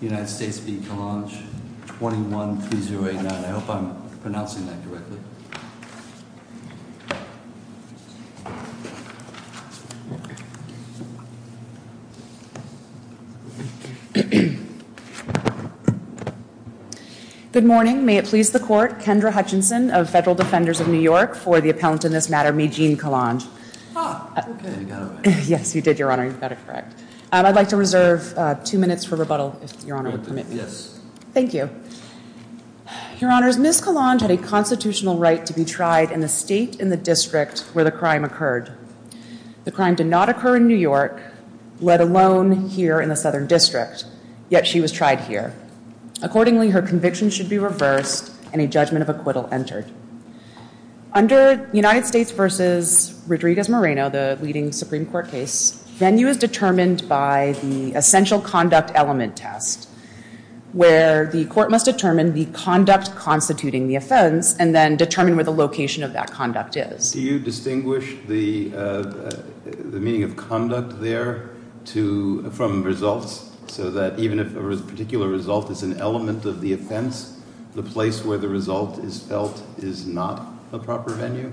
21-3089. I hope I'm pronouncing that correctly. Good morning. May it please the court, Kendra Hutchinson of Federal Defenders of New York for the appellant in this matter, Mejean Calonge. Yes, you did, Your Honor. You got it correct. I'd like to reserve two minutes for rebuttal, if Your Honor would permit me. Thank you. Your Honors, Ms. Calonge had a constitutional right to be tried in the state in the district where the crime occurred. The crime did not occur in New York, let alone here in the Southern District. Yet she was tried here. Accordingly, her conviction should be reversed and a judgment of acquittal entered. Under United States v. Rodriguez-Moreno, the leading Supreme Court case, venue is determined by the essential conduct element test, where the court must determine the conduct constituting the offense and then determine where the location of that conduct is. Do you distinguish the meaning of conduct there from results, so that even if a particular result is an element of the offense, the place where the result is felt is not the proper venue?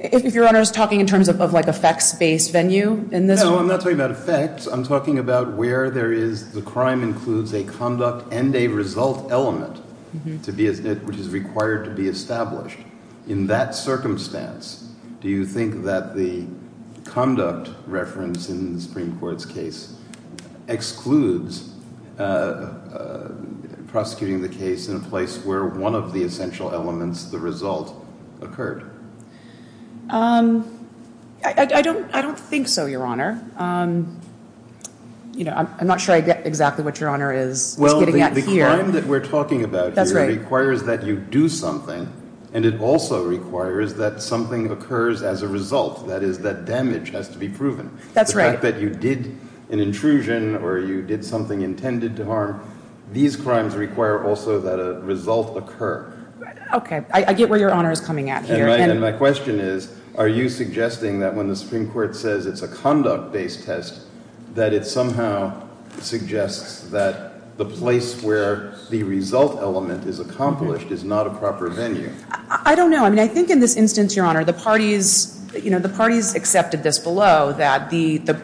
If Your Honor is talking in terms of, like, effects-based venue, in this one? No, I'm not talking about effects. I'm talking about where there is the crime includes a conduct and a result element, which is required to be established. In that circumstance, do you think that the conduct reference in the Supreme Court's case excludes prosecuting the case in a place where one of the essential elements, the result, occurred? I don't think so, Your Honor. I'm not sure I get exactly what Your Honor is getting at here. The crime that we're talking about here requires that you do something, and it also requires that something occurs as a result. That is, that damage has to be proven. That's right. The fact that you did an intrusion or you did something intended to harm, these crimes require also that a result occur. Okay. I get where Your Honor is coming at here. And my question is, are you suggesting that when the Supreme Court says it's a conduct-based test, that it somehow suggests that the place where the result element is accomplished is not a proper venue? I don't know. I mean, I think in this instance, Your Honor, the parties accepted this below, that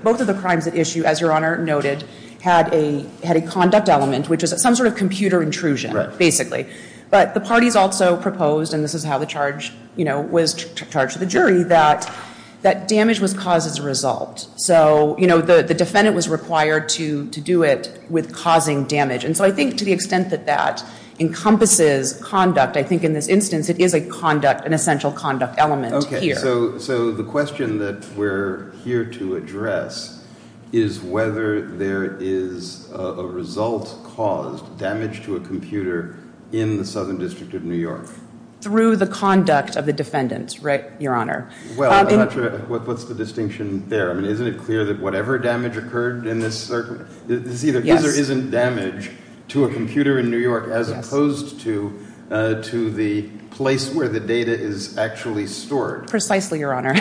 both of the crimes at issue, as Your Honor noted, had a conduct element, which is some sort of computer intrusion, basically. But the parties also proposed, and this is how the charge was charged to the jury, that damage was caused as a result. So the defendant was required to do it with causing damage. And so I think to the extent that that encompasses conduct, I think in this instance it is a conduct, an essential conduct element here. So the question that we're here to address is whether there is a result caused, damage to a computer, in the Southern District of New York. Through the conduct of the defendants, right, Your Honor? Well, I'm not sure what's the distinction there. I mean, isn't it clear that whatever damage occurred in this circuit, this either is or isn't damage to a computer in New York, as opposed to the place where the data is actually stored? Precisely, Your Honor.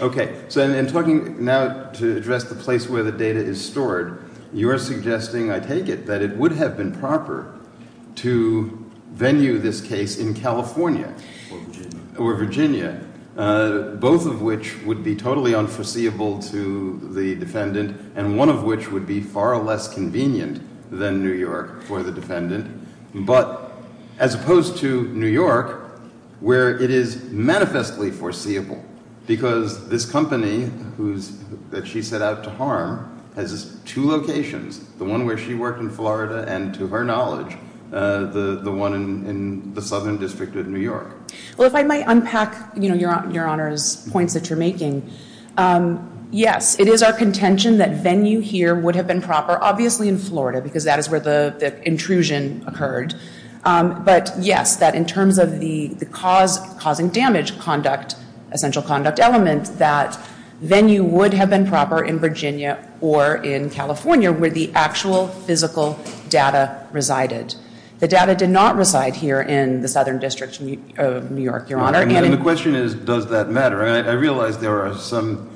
Okay. So in talking now to address the place where the data is stored, you're suggesting, I take it, that it would have been proper to venue this case in California or Virginia, both of which would be totally unforeseeable to the defendant, and one of which would be far less convenient than New York for the defendant. But as opposed to New York, where it is manifestly foreseeable, because this company that she set out to harm has two locations, the one where she worked in Florida and, to her knowledge, the one in the Southern District of New York. Well, if I might unpack, you know, Your Honor's points that you're making. Yes, it is our contention that venue here would have been proper, obviously in Florida, because that is where the intrusion occurred. But yes, that in terms of the causing damage conduct, essential conduct element, that venue would have been proper in Virginia or in California, where the actual physical data resided. The data did not reside here in the Southern District of New York, Your Honor. And the question is, does that matter? I realize there are some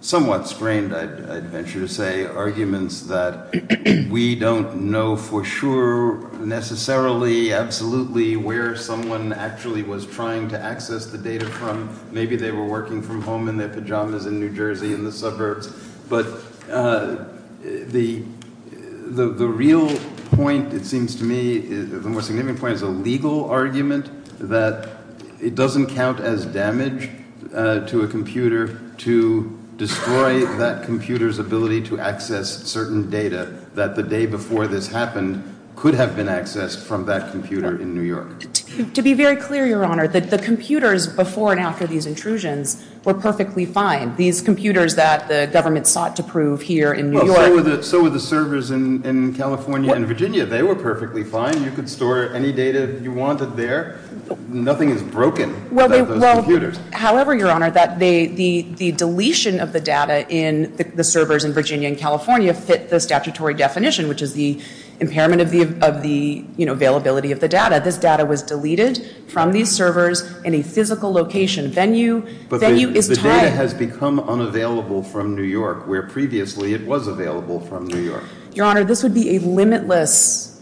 somewhat strained, I'd venture to say, arguments that we don't know for sure necessarily, absolutely, where someone actually was trying to access the data from. Maybe they were working from home in their pajamas in New Jersey in the suburbs. But the real point, it seems to me, the more significant point is a legal argument that it doesn't count as damage to a computer to destroy that computer's ability to access certain data that the day before this happened could have been accessed from that computer in New York. To be very clear, Your Honor, the computers before and after these intrusions were perfectly fine. These computers that the government sought to prove here in New York- Well, so were the servers in California and Virginia. They were perfectly fine. You could store any data you wanted there. Nothing is broken without those computers. Well, however, Your Honor, the deletion of the data in the servers in Virginia and California fit the statutory definition, which is the impairment of the availability of the data. This data was deleted from these servers in a physical location. Venue is tied- The data has become unavailable from New York where previously it was available from New York. Your Honor, this would be a limitless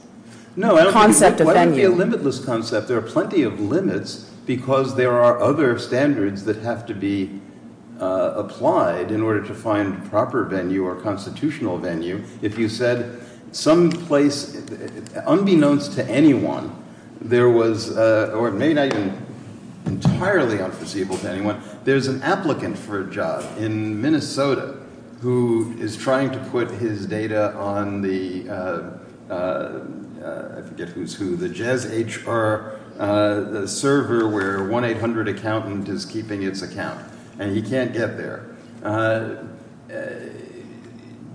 concept of venue. No, it wouldn't be a limitless concept. There are plenty of limits because there are other standards that have to be applied in order to find proper venue or constitutional venue. If you said someplace, unbeknownst to anyone, there was- or maybe not even entirely unforeseeable to anyone- there's an applicant for a job in Minnesota who is trying to put his data on the- I forget who's who- the JezHR server where 1-800-ACCOUNTANT is keeping its account, and he can't get there.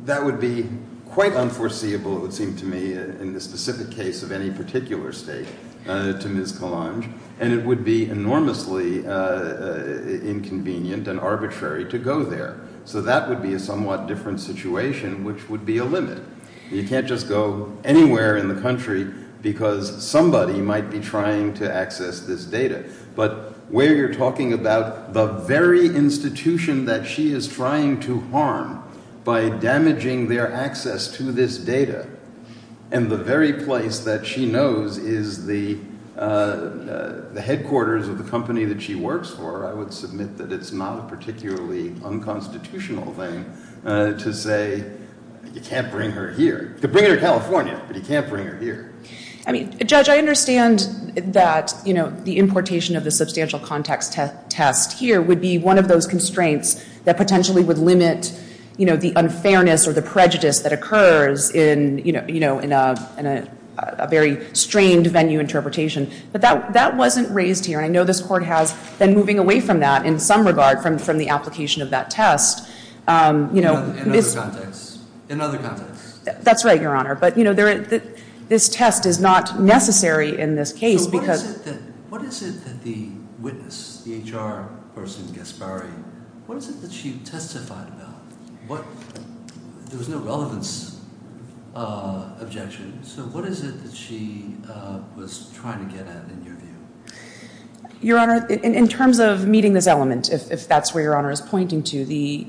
That would be quite unforeseeable, it would seem to me, in the specific case of any particular state to Ms. Kalanj. And it would be enormously inconvenient and arbitrary to go there. So that would be a somewhat different situation, which would be a limit. You can't just go anywhere in the country because somebody might be trying to access this data. But where you're talking about the very institution that she is trying to harm by damaging their access to this data, and the very place that she knows is the headquarters of the company that she works for, I would submit that it's not a particularly unconstitutional thing to say, you can't bring her here. You could bring her to California, but you can't bring her here. I mean, Judge, I understand that the importation of the substantial context test here would be one of those constraints that potentially would limit the unfairness or the prejudice that occurs in a very strained venue interpretation. But that wasn't raised here. And I know this Court has been moving away from that in some regard from the application of that test. In other contexts. That's right, Your Honor. But, you know, this test is not necessary in this case. So what is it that the witness, the HR person, Gasparri, what is it that she testified about? There was no relevance objection. So what is it that she was trying to get at in your view? Your Honor, in terms of meeting this element, if that's where Your Honor is pointing to, the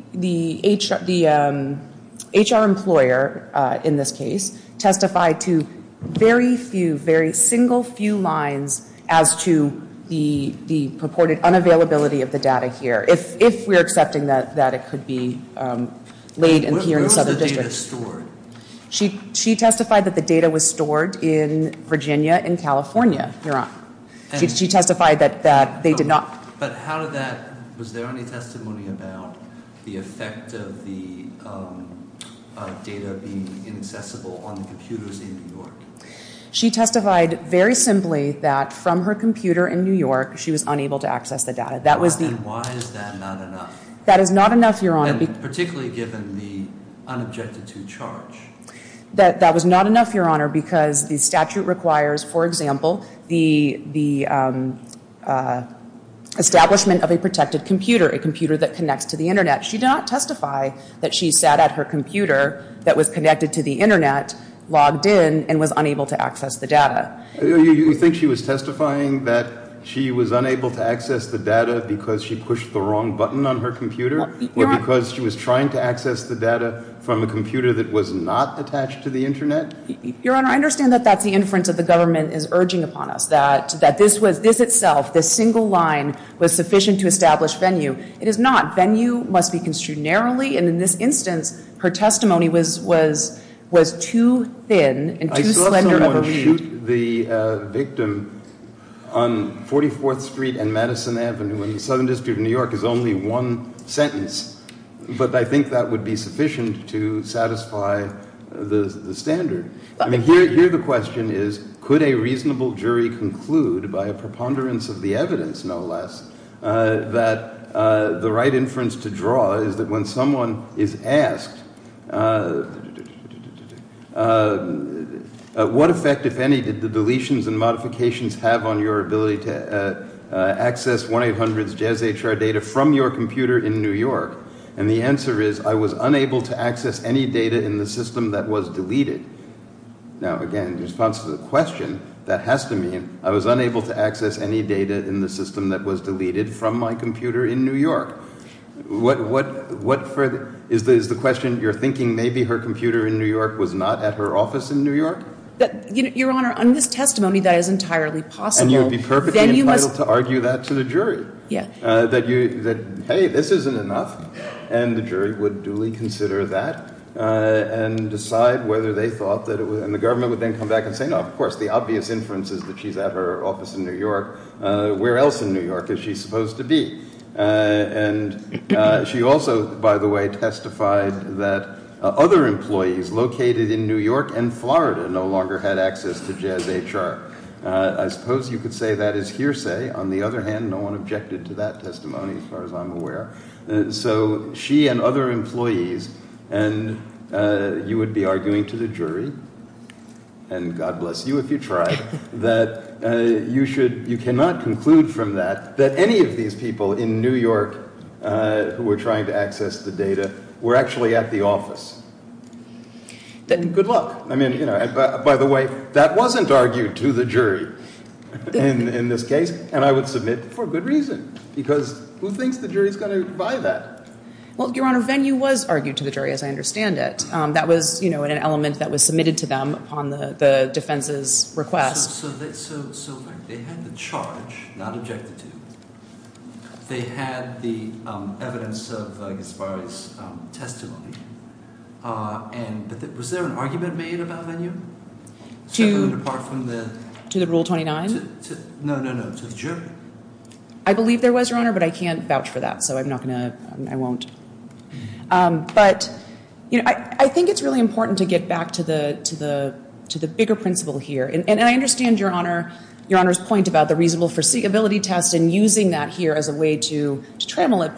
HR employer in this case testified to very few, very single few lines as to the purported unavailability of the data here. If we're accepting that it could be laid in here in the Southern District. Where was the data stored? She testified that the data was stored in Virginia and California, Your Honor. She testified that they did not. But how did that, was there any testimony about the effect of the data being inaccessible on the computers in New York? She testified very simply that from her computer in New York, she was unable to access the data. And why is that not enough? That is not enough, Your Honor. Particularly given the unobjected to charge. That was not enough, Your Honor, because the statute requires, for example, the establishment of a protected computer, a computer that connects to the Internet. She did not testify that she sat at her computer that was connected to the Internet, logged in, and was unable to access the data. You think she was testifying that she was unable to access the data because she pushed the wrong button on her computer? Or because she was trying to access the data from a computer that was not attached to the Internet? Your Honor, I understand that that's the inference that the government is urging upon us. That this was, this itself, this single line was sufficient to establish venue. It is not. Venue must be construed narrowly. And in this instance, her testimony was too thin and too slender of a read. The victim on 44th Street and Madison Avenue in the Southern District of New York is only one sentence. But I think that would be sufficient to satisfy the standard. I mean, here the question is, could a reasonable jury conclude by a preponderance of the evidence, no less, that the right inference to draw is that when someone is asked, what effect, if any, did the deletions and modifications have on your ability to access 1-800-JES-HR data from your computer in New York? And the answer is, I was unable to access any data in the system that was deleted. Now, again, in response to the question, that has to mean, I was unable to access any data in the system that was deleted from my computer in New York. What further, is the question, you're thinking maybe her computer in New York was not at her office in New York? Your Honor, on this testimony, that is entirely possible. And you would be perfectly entitled to argue that to the jury. Yeah. That, hey, this isn't enough. And the jury would duly consider that and decide whether they thought that it was, and the government would then come back and say, no, of course, the obvious inference is that she's at her office in New York. Where else in New York is she supposed to be? And she also, by the way, testified that other employees located in New York and Florida no longer had access to 1-800-JES-HR. I suppose you could say that is hearsay. On the other hand, no one objected to that testimony, as far as I'm aware. So she and other employees, and you would be arguing to the jury, and God bless you if you tried, that you should, you cannot conclude from that that any of these people in New York who were trying to access the data were actually at the office. Good luck. I mean, you know, by the way, that wasn't argued to the jury in this case, and I would submit for good reason. Because who thinks the jury is going to buy that? Well, Your Honor, Venue was argued to the jury, as I understand it. That was, you know, an element that was submitted to them upon the defense's request. So they had the charge not objected to. They had the evidence of Gaspari's testimony. And was there an argument made about Venue? To the rule 29? No, no, no, to the jury. I believe there was, Your Honor, but I can't vouch for that, so I'm not going to, I won't. But, you know, I think it's really important to get back to the bigger principle here. And I understand Your Honor's point about the reasonable foreseeability test and using that here as a way to trammel it.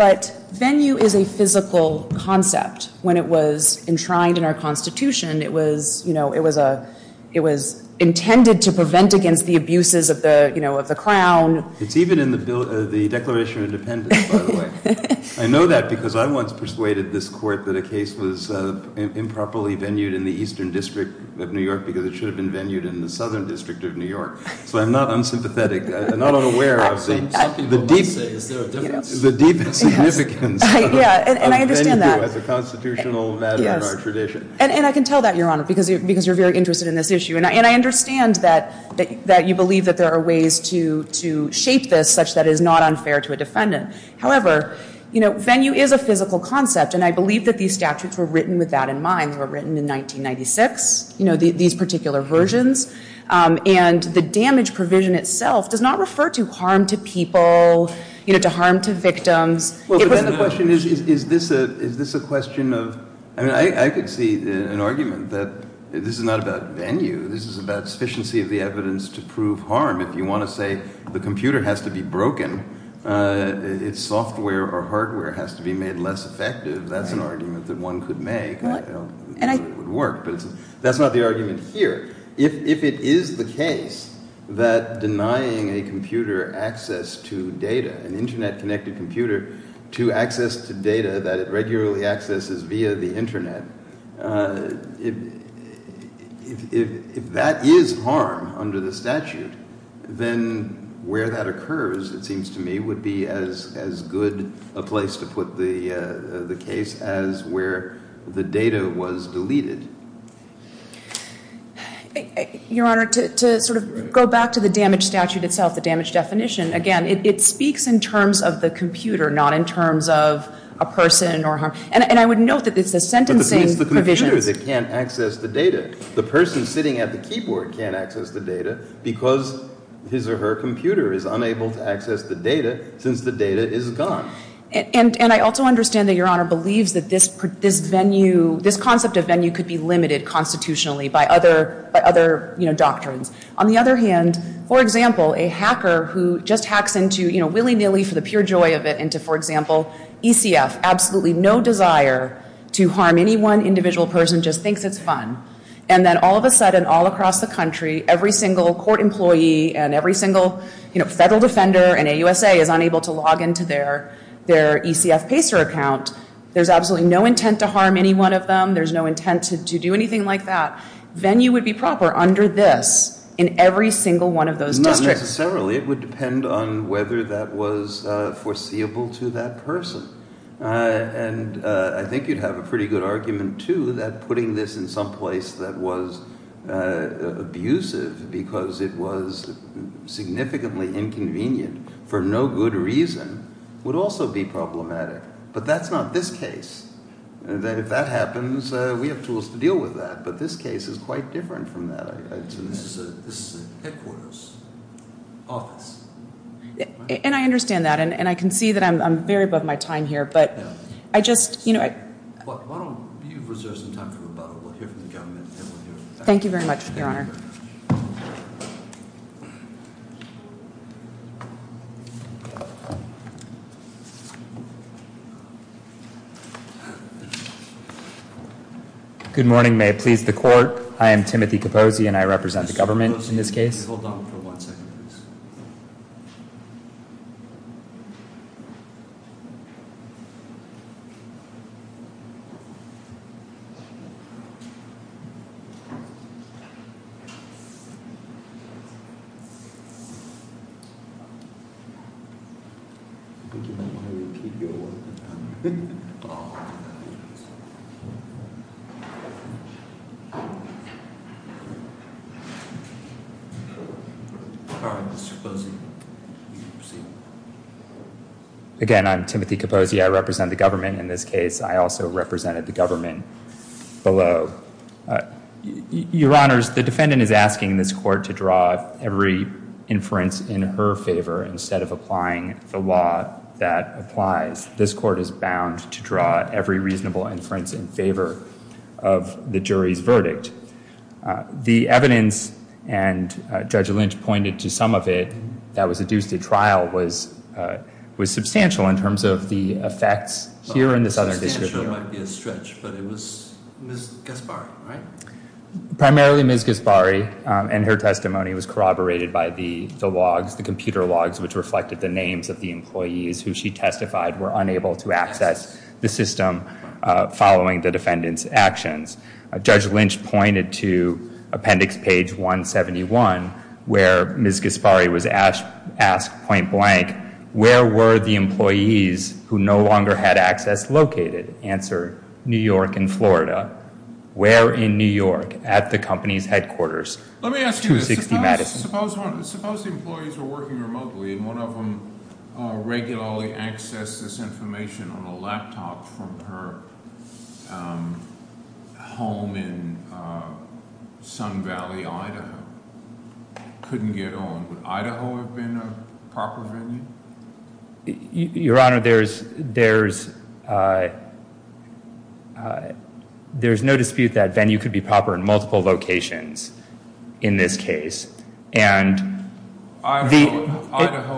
But Venue is a physical concept. When it was enshrined in our Constitution, it was, you know, it was intended to prevent against the abuses of the crown. It's even in the Declaration of Independence, by the way. I know that because I once persuaded this court that a case was improperly Venued in the Eastern District of New York because it should have been Venued in the Southern District of New York. So I'm not unsympathetic. I'm not unaware of the deep significance of Venue as a constitutional matter in our tradition. And I can tell that, Your Honor, because you're very interested in this issue. And I understand that you believe that there are ways to shape this such that it is not unfair to a defendant. However, you know, Venue is a physical concept, and I believe that these statutes were written with that in mind. They were written in 1996, you know, these particular versions. And the damage provision itself does not refer to harm to people, you know, to harm to victims. Well, but then the question is, is this a question of – I mean, I could see an argument that this is not about Venue. This is about sufficiency of the evidence to prove harm. If you want to say the computer has to be broken, its software or hardware has to be made less effective, that's an argument that one could make. It would work, but that's not the argument here. If it is the case that denying a computer access to data, an Internet-connected computer, to access to data that it regularly accesses via the Internet, if that is harm under the statute, then where that occurs, it seems to me, would be as good a place to put the case as where the data was deleted. Your Honor, to sort of go back to the damage statute itself, the damage definition, again, it speaks in terms of the computer, not in terms of a person or harm. And I would note that it's the sentencing provisions. But the person is the computer that can't access the data. The person sitting at the keyboard can't access the data because his or her computer is unable to access the data since the data is gone. And I also understand that Your Honor believes that this concept of Venue could be limited constitutionally by other doctrines. On the other hand, for example, a hacker who just hacks into, willy-nilly for the pure joy of it, into, for example, ECF, absolutely no desire to harm any one individual person, just thinks it's fun. And then all of a sudden, all across the country, every single court employee and every single federal defender in AUSA is unable to log into their ECF PACER account. There's absolutely no intent to harm any one of them. There's no intent to do anything like that. Venue would be proper under this in every single one of those districts. Not necessarily. It would depend on whether that was foreseeable to that person. And I think you'd have a pretty good argument, too, that putting this in some place that was abusive because it was significantly inconvenient for no good reason would also be problematic. But that's not this case. If that happens, we have tools to deal with that. But this case is quite different from that. This is a headquarters office. And I understand that, and I can see that I'm very above my time here. But I just, you know, I- Why don't you reserve some time for rebuttal? We'll hear from the government and we'll hear- Thank you very much, Your Honor. Good morning. May it please the Court. I am Timothy Capozzi, and I represent the government in this case. All right. Mr. Capozzi, you can proceed. Again, I'm Timothy Capozzi. I represent the government in this case. I also represented the government below. Your Honors, the defendant is asking this Court to draw every inference in her favor instead of applying the law that applies. This Court is bound to draw every reasonable inference in favor of the jury's verdict. The evidence, and Judge Lynch pointed to some of it, that was adduced at trial was substantial in terms of the effects here in the Southern District. Substantial might be a stretch, but it was Ms. Gasparri, right? Primarily Ms. Gasparri, and her testimony was corroborated by the logs, the computer logs which reflected the names of the employees who she testified were unable to access the system following the defendant's actions. Judge Lynch pointed to appendix page 171 where Ms. Gasparri was asked point blank, where were the employees who no longer had access located? Answer, New York and Florida. Where in New York? At the company's headquarters. Let me ask you this. 260 Madison. Suppose the employees were working remotely, one of them regularly accessed this information on a laptop from her home in Sun Valley, Idaho. Couldn't get on. Would Idaho have been a proper venue? Your Honor, there's no dispute that venue could be proper in multiple locations in this case. Idaho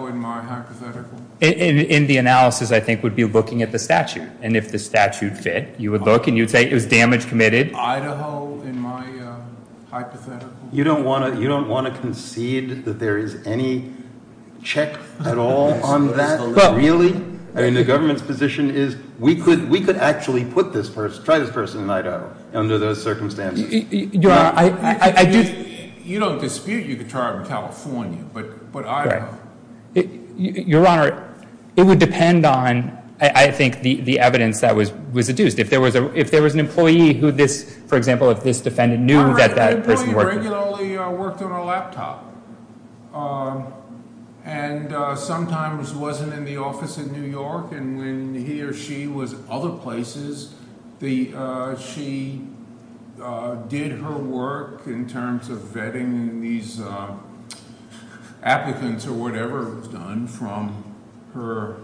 in my hypothetical. In the analysis I think would be looking at the statute. And if the statute fit, you would look and you would say it was damage committed. Idaho in my hypothetical. You don't want to concede that there is any check at all on that? Really? I mean the government's position is we could actually put this person, try this person in Idaho under those circumstances. You don't dispute you could try it in California, but Idaho. Your Honor, it would depend on, I think, the evidence that was deduced. If there was an employee who this, for example, if this defendant knew that that person worked there. A regular employee regularly worked on a laptop. And sometimes wasn't in the office in New York. And when he or she was other places, she did her work in terms of vetting these applicants or whatever was done from her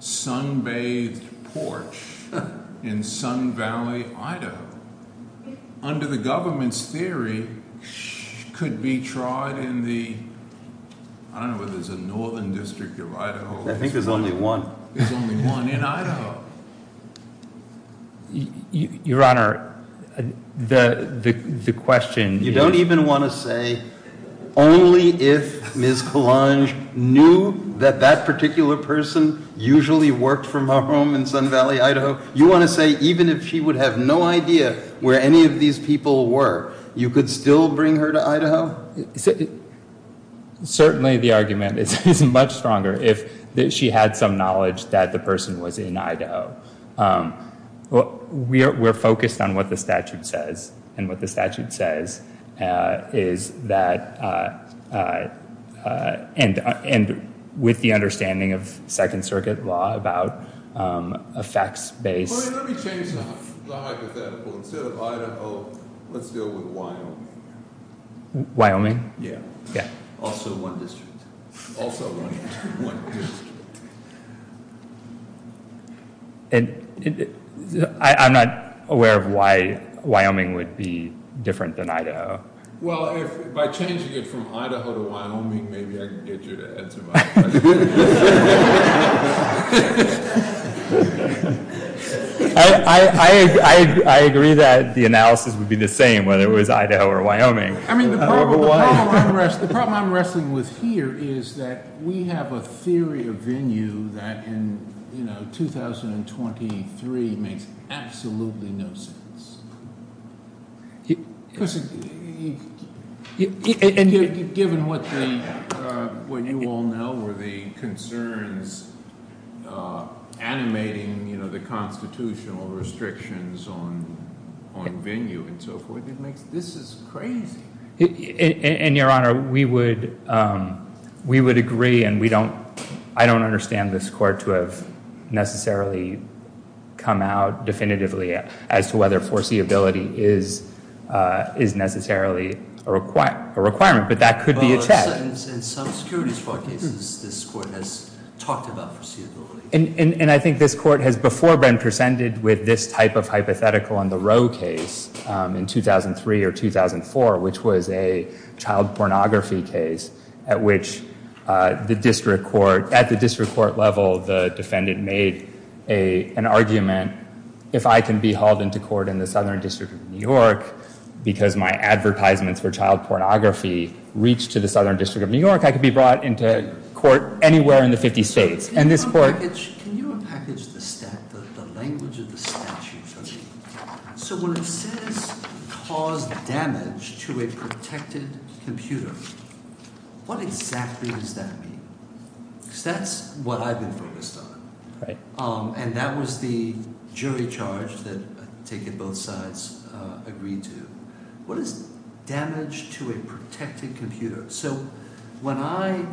sun bathed porch in Sun Valley, Idaho. Under the government's theory, could be tried in the, I don't know if there's a northern district of Idaho. I think there's only one. There's only one in Idaho. Your Honor, the question. You don't even want to say only if Ms. Colonge knew that that particular person usually worked from her home in Sun Valley, Idaho. You want to say even if she would have no idea where any of these people were, you could still bring her to Idaho? Certainly the argument is much stronger if she had some knowledge that the person was in Idaho. We're focused on what the statute says. And what the statute says is that and with the understanding of Second Circuit law about effects based. Let me change the hypothetical. Instead of Idaho, let's deal with Wyoming. Wyoming? Yeah. Also one district. Also one district. By changing it from Idaho to Wyoming, maybe I can get you to answer my question. I agree that the analysis would be the same whether it was Idaho or Wyoming. The problem I'm wrestling with here is that we have a theory of venue that in 2023 makes absolutely no sense. Given what you all know were the concerns animating the constitutional restrictions on venue and so forth, this is crazy. Your Honor, we would agree and I don't understand this court to have necessarily come out definitively as to whether foreseeability is necessarily a requirement. But that could be a check. In some securities court cases, this court has talked about foreseeability. And I think this court has before been presented with this type of hypothetical on the row case in 2003 or 2004, which was a child pornography case at which at the district court level, the defendant made an argument. If I can be hauled into court in the Southern District of New York because my advertisements for child pornography reached to the Southern District of New York, I could be brought into court anywhere in the 50 states. And this court- Can you unpackage the language of the statute for me? So when it says cause damage to a protected computer, what exactly does that mean? Because that's what I've been focused on. And that was the jury charge that I take it both sides agreed to. What is damage to a protected computer? So when I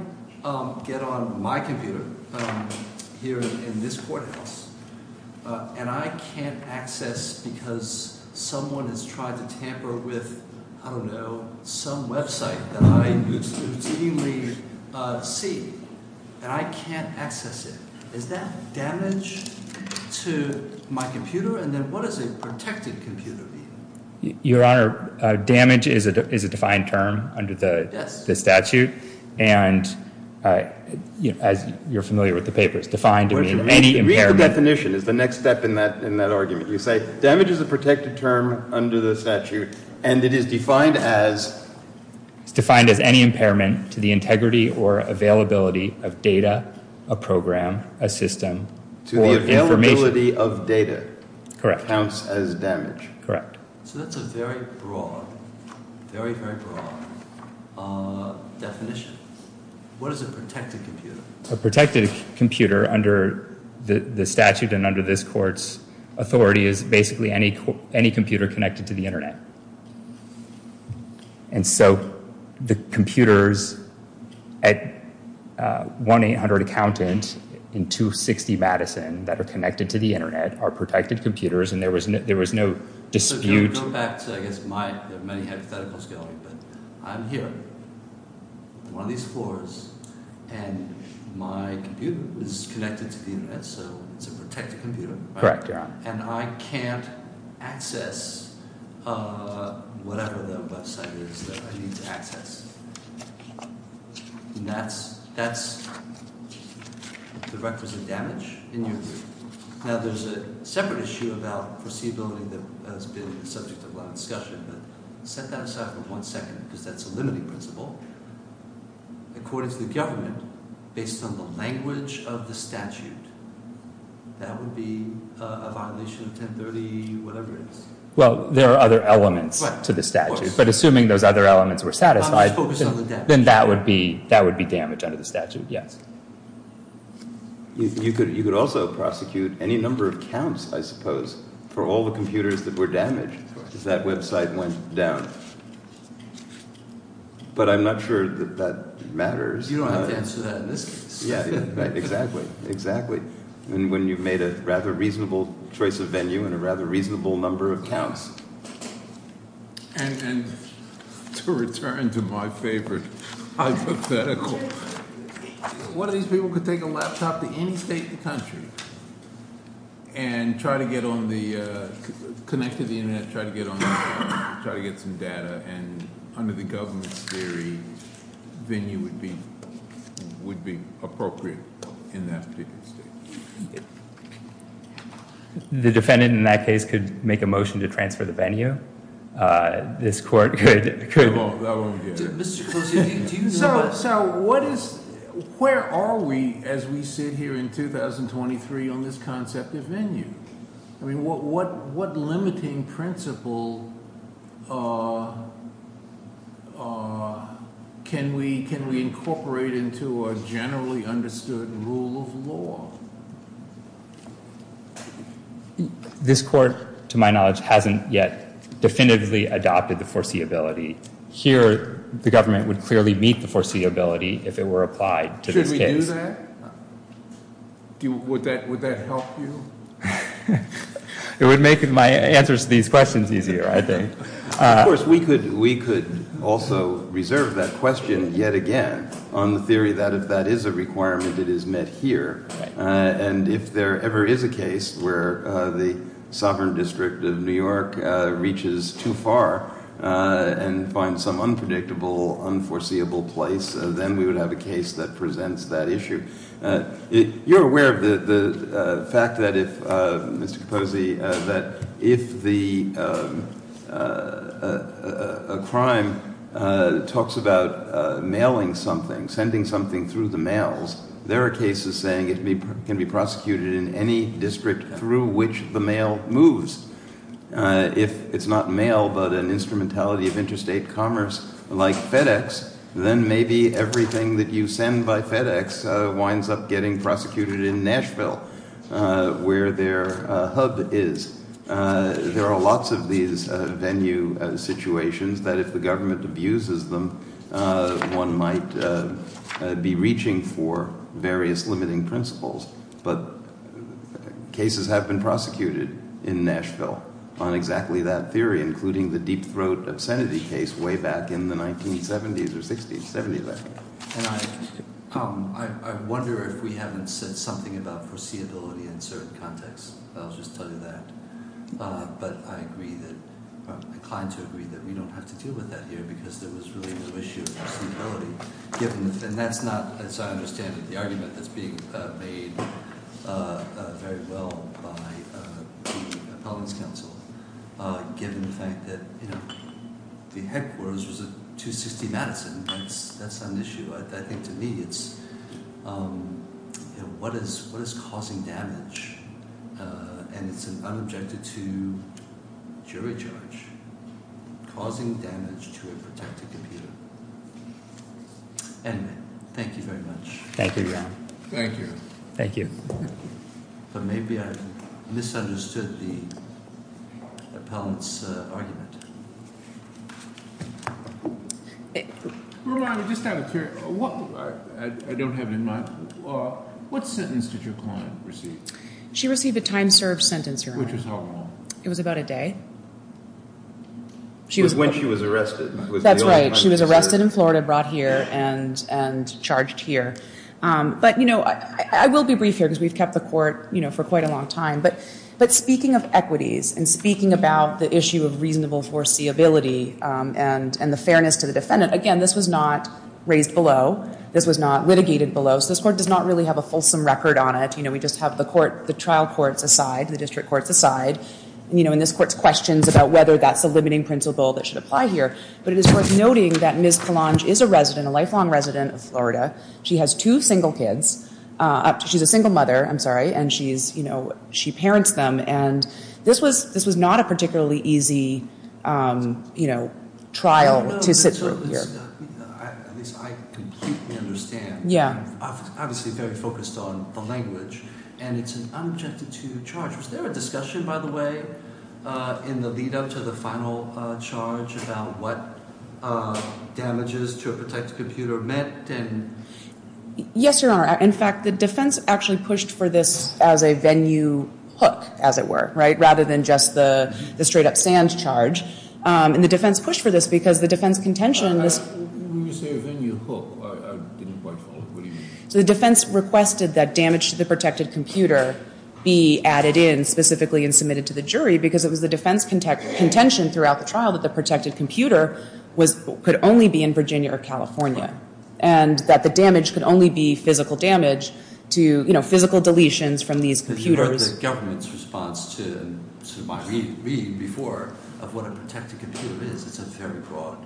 get on my computer here in this courthouse and I can't access because someone has tried to tamper with, I don't know, some website that I routinely see and I can't access it, is that damage to my computer? And then what does a protected computer mean? Your Honor, damage is a defined term under the- Yes. The statute. And as you're familiar with the papers, defined to mean any impairment- Read the definition is the next step in that argument. You say damage is a protected term under the statute and it is defined as- It's defined as any impairment to the integrity or availability of data, a program, a system, or information. To the availability of data. Correct. Counts as damage. Correct. So that's a very broad, very, very broad definition. What is a protected computer? A protected computer under the statute and under this court's authority is basically any computer connected to the Internet. And so the computers at 1-800-ACCOUNTANT in 260 Madison that are connected to the Internet are protected computers. And there was no dispute- Go back to, I guess, my- there are many hypotheticals going, but I'm here on one of these floors and my computer is connected to the Internet. So it's a protected computer. Correct, Your Honor. And I can't access whatever the website is that I need to access. And that's the requisite damage in your view? Now there's a separate issue about foreseeability that has been the subject of a lot of discussion. But set that aside for one second because that's a limiting principle. According to the government, based on the language of the statute, that would be a violation of 1030-whatever it is. Well, there are other elements to the statute. But assuming those other elements were satisfied- I'm just focused on the damage. Then that would be damage under the statute, yes. You could also prosecute any number of counts, I suppose, for all the computers that were damaged if that website went down. But I'm not sure that that matters. You don't have to answer that in this case. Exactly, exactly. And when you've made a rather reasonable choice of venue and a rather reasonable number of counts. And to return to my favorite hypothetical. One of these people could take a laptop to any state in the country and try to get on the-connect to the internet, try to get some data. And under the government's theory, venue would be appropriate in that particular state. The defendant in that case could make a motion to transfer the venue. This court could- No, that wouldn't be it. So what is- where are we as we sit here in 2023 on this concept of venue? What limiting principle can we incorporate into a generally understood rule of law? This court, to my knowledge, hasn't yet definitively adopted the foreseeability. Here, the government would clearly meet the foreseeability if it were applied to this case. Should we do that? Would that help you? It would make my answers to these questions easier, I think. Of course, we could also reserve that question yet again on the theory that if that is a requirement, it is met here. And if there ever is a case where the Sovereign District of New York reaches too far and finds some unpredictable, unforeseeable place, then we would have a case that presents that issue. You're aware of the fact that if, Mr. Capozzi, that if a crime talks about mailing something, sending something through the mails, there are cases saying it can be prosecuted in any district through which the mail moves. If it's not mail but an instrumentality of interstate commerce like FedEx, then maybe everything that you send by FedEx winds up getting prosecuted in Nashville, where their hub is. There are lots of these venue situations that if the government abuses them, one might be reaching for various limiting principles. But cases have been prosecuted in Nashville on exactly that theory, including the Deep Throat obscenity case way back in the 1970s or 60s, 70s, I think. But I agree that, I'm inclined to agree that we don't have to deal with that here because there was really no issue of foreseeability. And that's not, as I understand it, the argument that's being made very well by the Appellant's Council, given the fact that the headquarters was at 260 Madison. That's an issue. I think, to me, it's what is causing damage? And it's an unobjected to jury charge, causing damage to a protected computer. Anyway, thank you very much. Thank you, Ron. Thank you. Thank you. But maybe I've misunderstood the Appellant's argument. I don't have it in mind. What sentence did your client receive? She received a time served sentence, Your Honor. Which was how long? It was about a day. When she was arrested. That's right. She was arrested in Florida, brought here, and charged here. But I will be brief here because we've kept the court for quite a long time. But speaking of equities and speaking about the issue of reasonable foreseeability and the fairness to the defendant, again, this was not raised below. This was not litigated below. So this court does not really have a fulsome record on it. We just have the trial courts aside, the district courts aside, and this court's questions about whether that's a limiting principle that should apply here. But it is worth noting that Ms. Polange is a resident, a lifelong resident of Florida. She has two single kids. She's a single mother. I'm sorry. And she parents them. And this was not a particularly easy trial to sit through here. At least I completely understand. I'm obviously very focused on the language. And it's an unobjected to charge. Was there a discussion, by the way, in the lead up to the final charge about what damages to a protected computer meant? Yes, Your Honor. In fact, the defense actually pushed for this as a venue hook, as it were, right, rather than just the straight-up Sands charge. And the defense pushed for this because the defense contention in this – When you say venue hook, I didn't quite follow. What do you mean? So the defense requested that damage to the protected computer be added in specifically and submitted to the jury because it was the defense contention throughout the trial that the protected computer could only be in Virginia or California and that the damage could only be physical damage to physical deletions from these computers. But you heard the government's response to my reading before of what a protected computer is. It's a very broad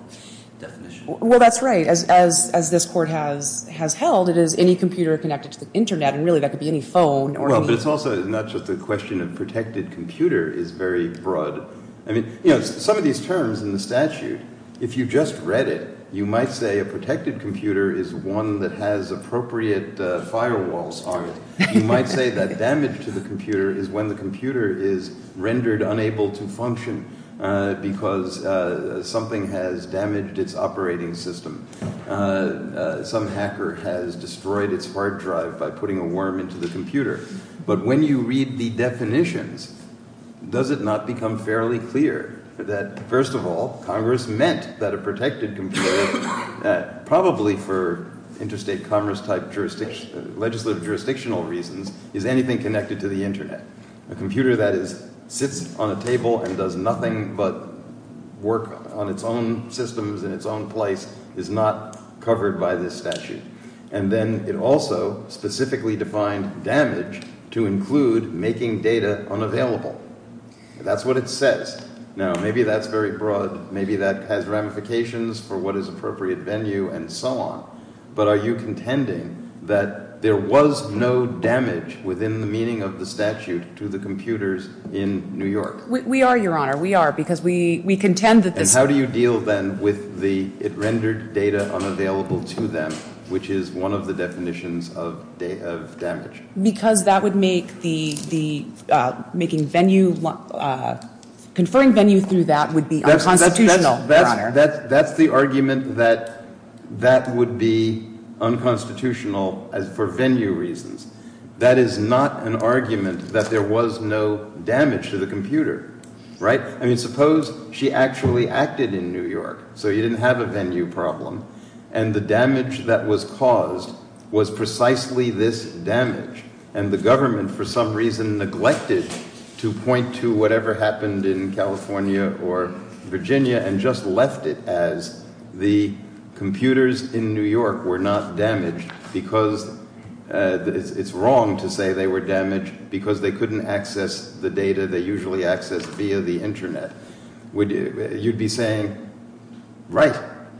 definition. Well, that's right. As this court has held, it is any computer connected to the internet. And really, that could be any phone or any – Well, but it's also not just a question of protected computer is very broad. I mean some of these terms in the statute, if you just read it, you might say a protected computer is one that has appropriate firewalls on it. You might say that damage to the computer is when the computer is rendered unable to function because something has damaged its operating system. Some hacker has destroyed its hard drive by putting a worm into the computer. But when you read the definitions, does it not become fairly clear that, first of all, Congress meant that a protected computer, probably for interstate commerce type legislative jurisdictional reasons, is anything connected to the internet? A computer that sits on a table and does nothing but work on its own systems in its own place is not covered by this statute. And then it also specifically defined damage to include making data unavailable. That's what it says. Now, maybe that's very broad. Maybe that has ramifications for what is appropriate venue and so on. But are you contending that there was no damage within the meaning of the statute to the computers in New York? We are, Your Honor. We are because we contend that this – Which is one of the definitions of damage. Because that would make the – making venue – conferring venue through that would be unconstitutional, Your Honor. That's the argument that that would be unconstitutional for venue reasons. That is not an argument that there was no damage to the computer, right? I mean, suppose she actually acted in New York so you didn't have a venue problem. And the damage that was caused was precisely this damage. And the government, for some reason, neglected to point to whatever happened in California or Virginia and just left it as the computers in New York were not damaged. Because it's wrong to say they were damaged because they couldn't access the data they usually access via the internet. You'd be saying, right,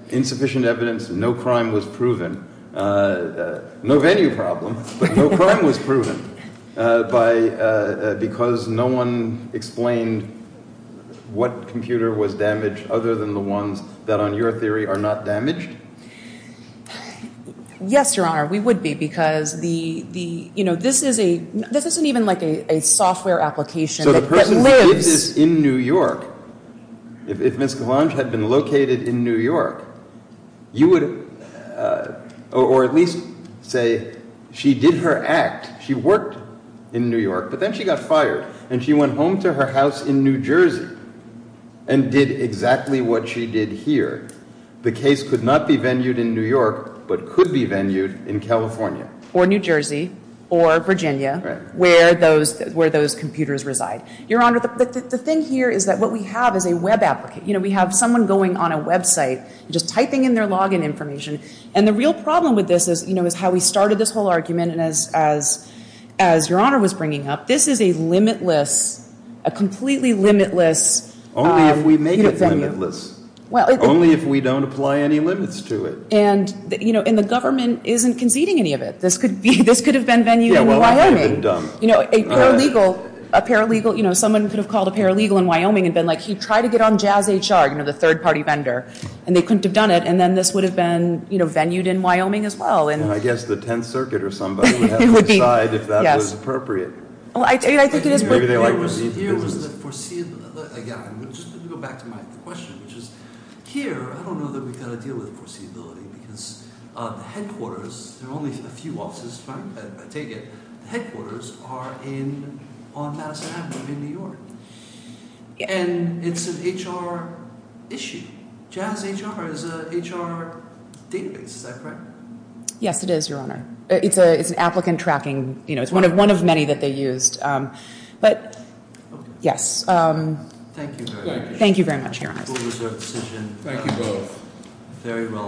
insufficient evidence, no crime was proven. No venue problem, but no crime was proven because no one explained what computer was damaged other than the ones that, on your theory, are not damaged? Yes, Your Honor. We would be because the – this isn't even like a software application that lives – If Ms. Gallange had been located in New York, you would – or at least say she did her act. She worked in New York, but then she got fired and she went home to her house in New Jersey and did exactly what she did here. The case could not be venued in New York, but could be venued in California. Or New Jersey or Virginia where those computers reside. Your Honor, the thing here is that what we have is a web applicant. We have someone going on a website and just typing in their login information. And the real problem with this is how we started this whole argument, and as Your Honor was bringing up, this is a limitless – a completely limitless venue. Only if we make it limitless. Only if we don't apply any limits to it. And the government isn't conceding any of it. This could have been venued in Wyoming. Yeah, well, it could have been done. A paralegal – someone could have called a paralegal in Wyoming and been like, he tried to get on Jazz HR, the third-party vendor. And they couldn't have done it. And then this would have been venued in Wyoming as well. I guess the Tenth Circuit or somebody would have to decide if that was appropriate. I think it is worth – Here was the foreseeable – again, I'm just going to go back to my question, which is here, I don't know that we've got to deal with foreseeability. Because the headquarters – there are only a few offices, but I take it – the headquarters are on Madison Avenue in New York. And it's an HR issue. Jazz HR is an HR database, is that correct? Yes, it is, Your Honor. It's an applicant tracking – it's one of many that they used. But, yes. Thank you very much. Thank you very much, Your Honor. Fully reserved decision. Thank you both. Very well.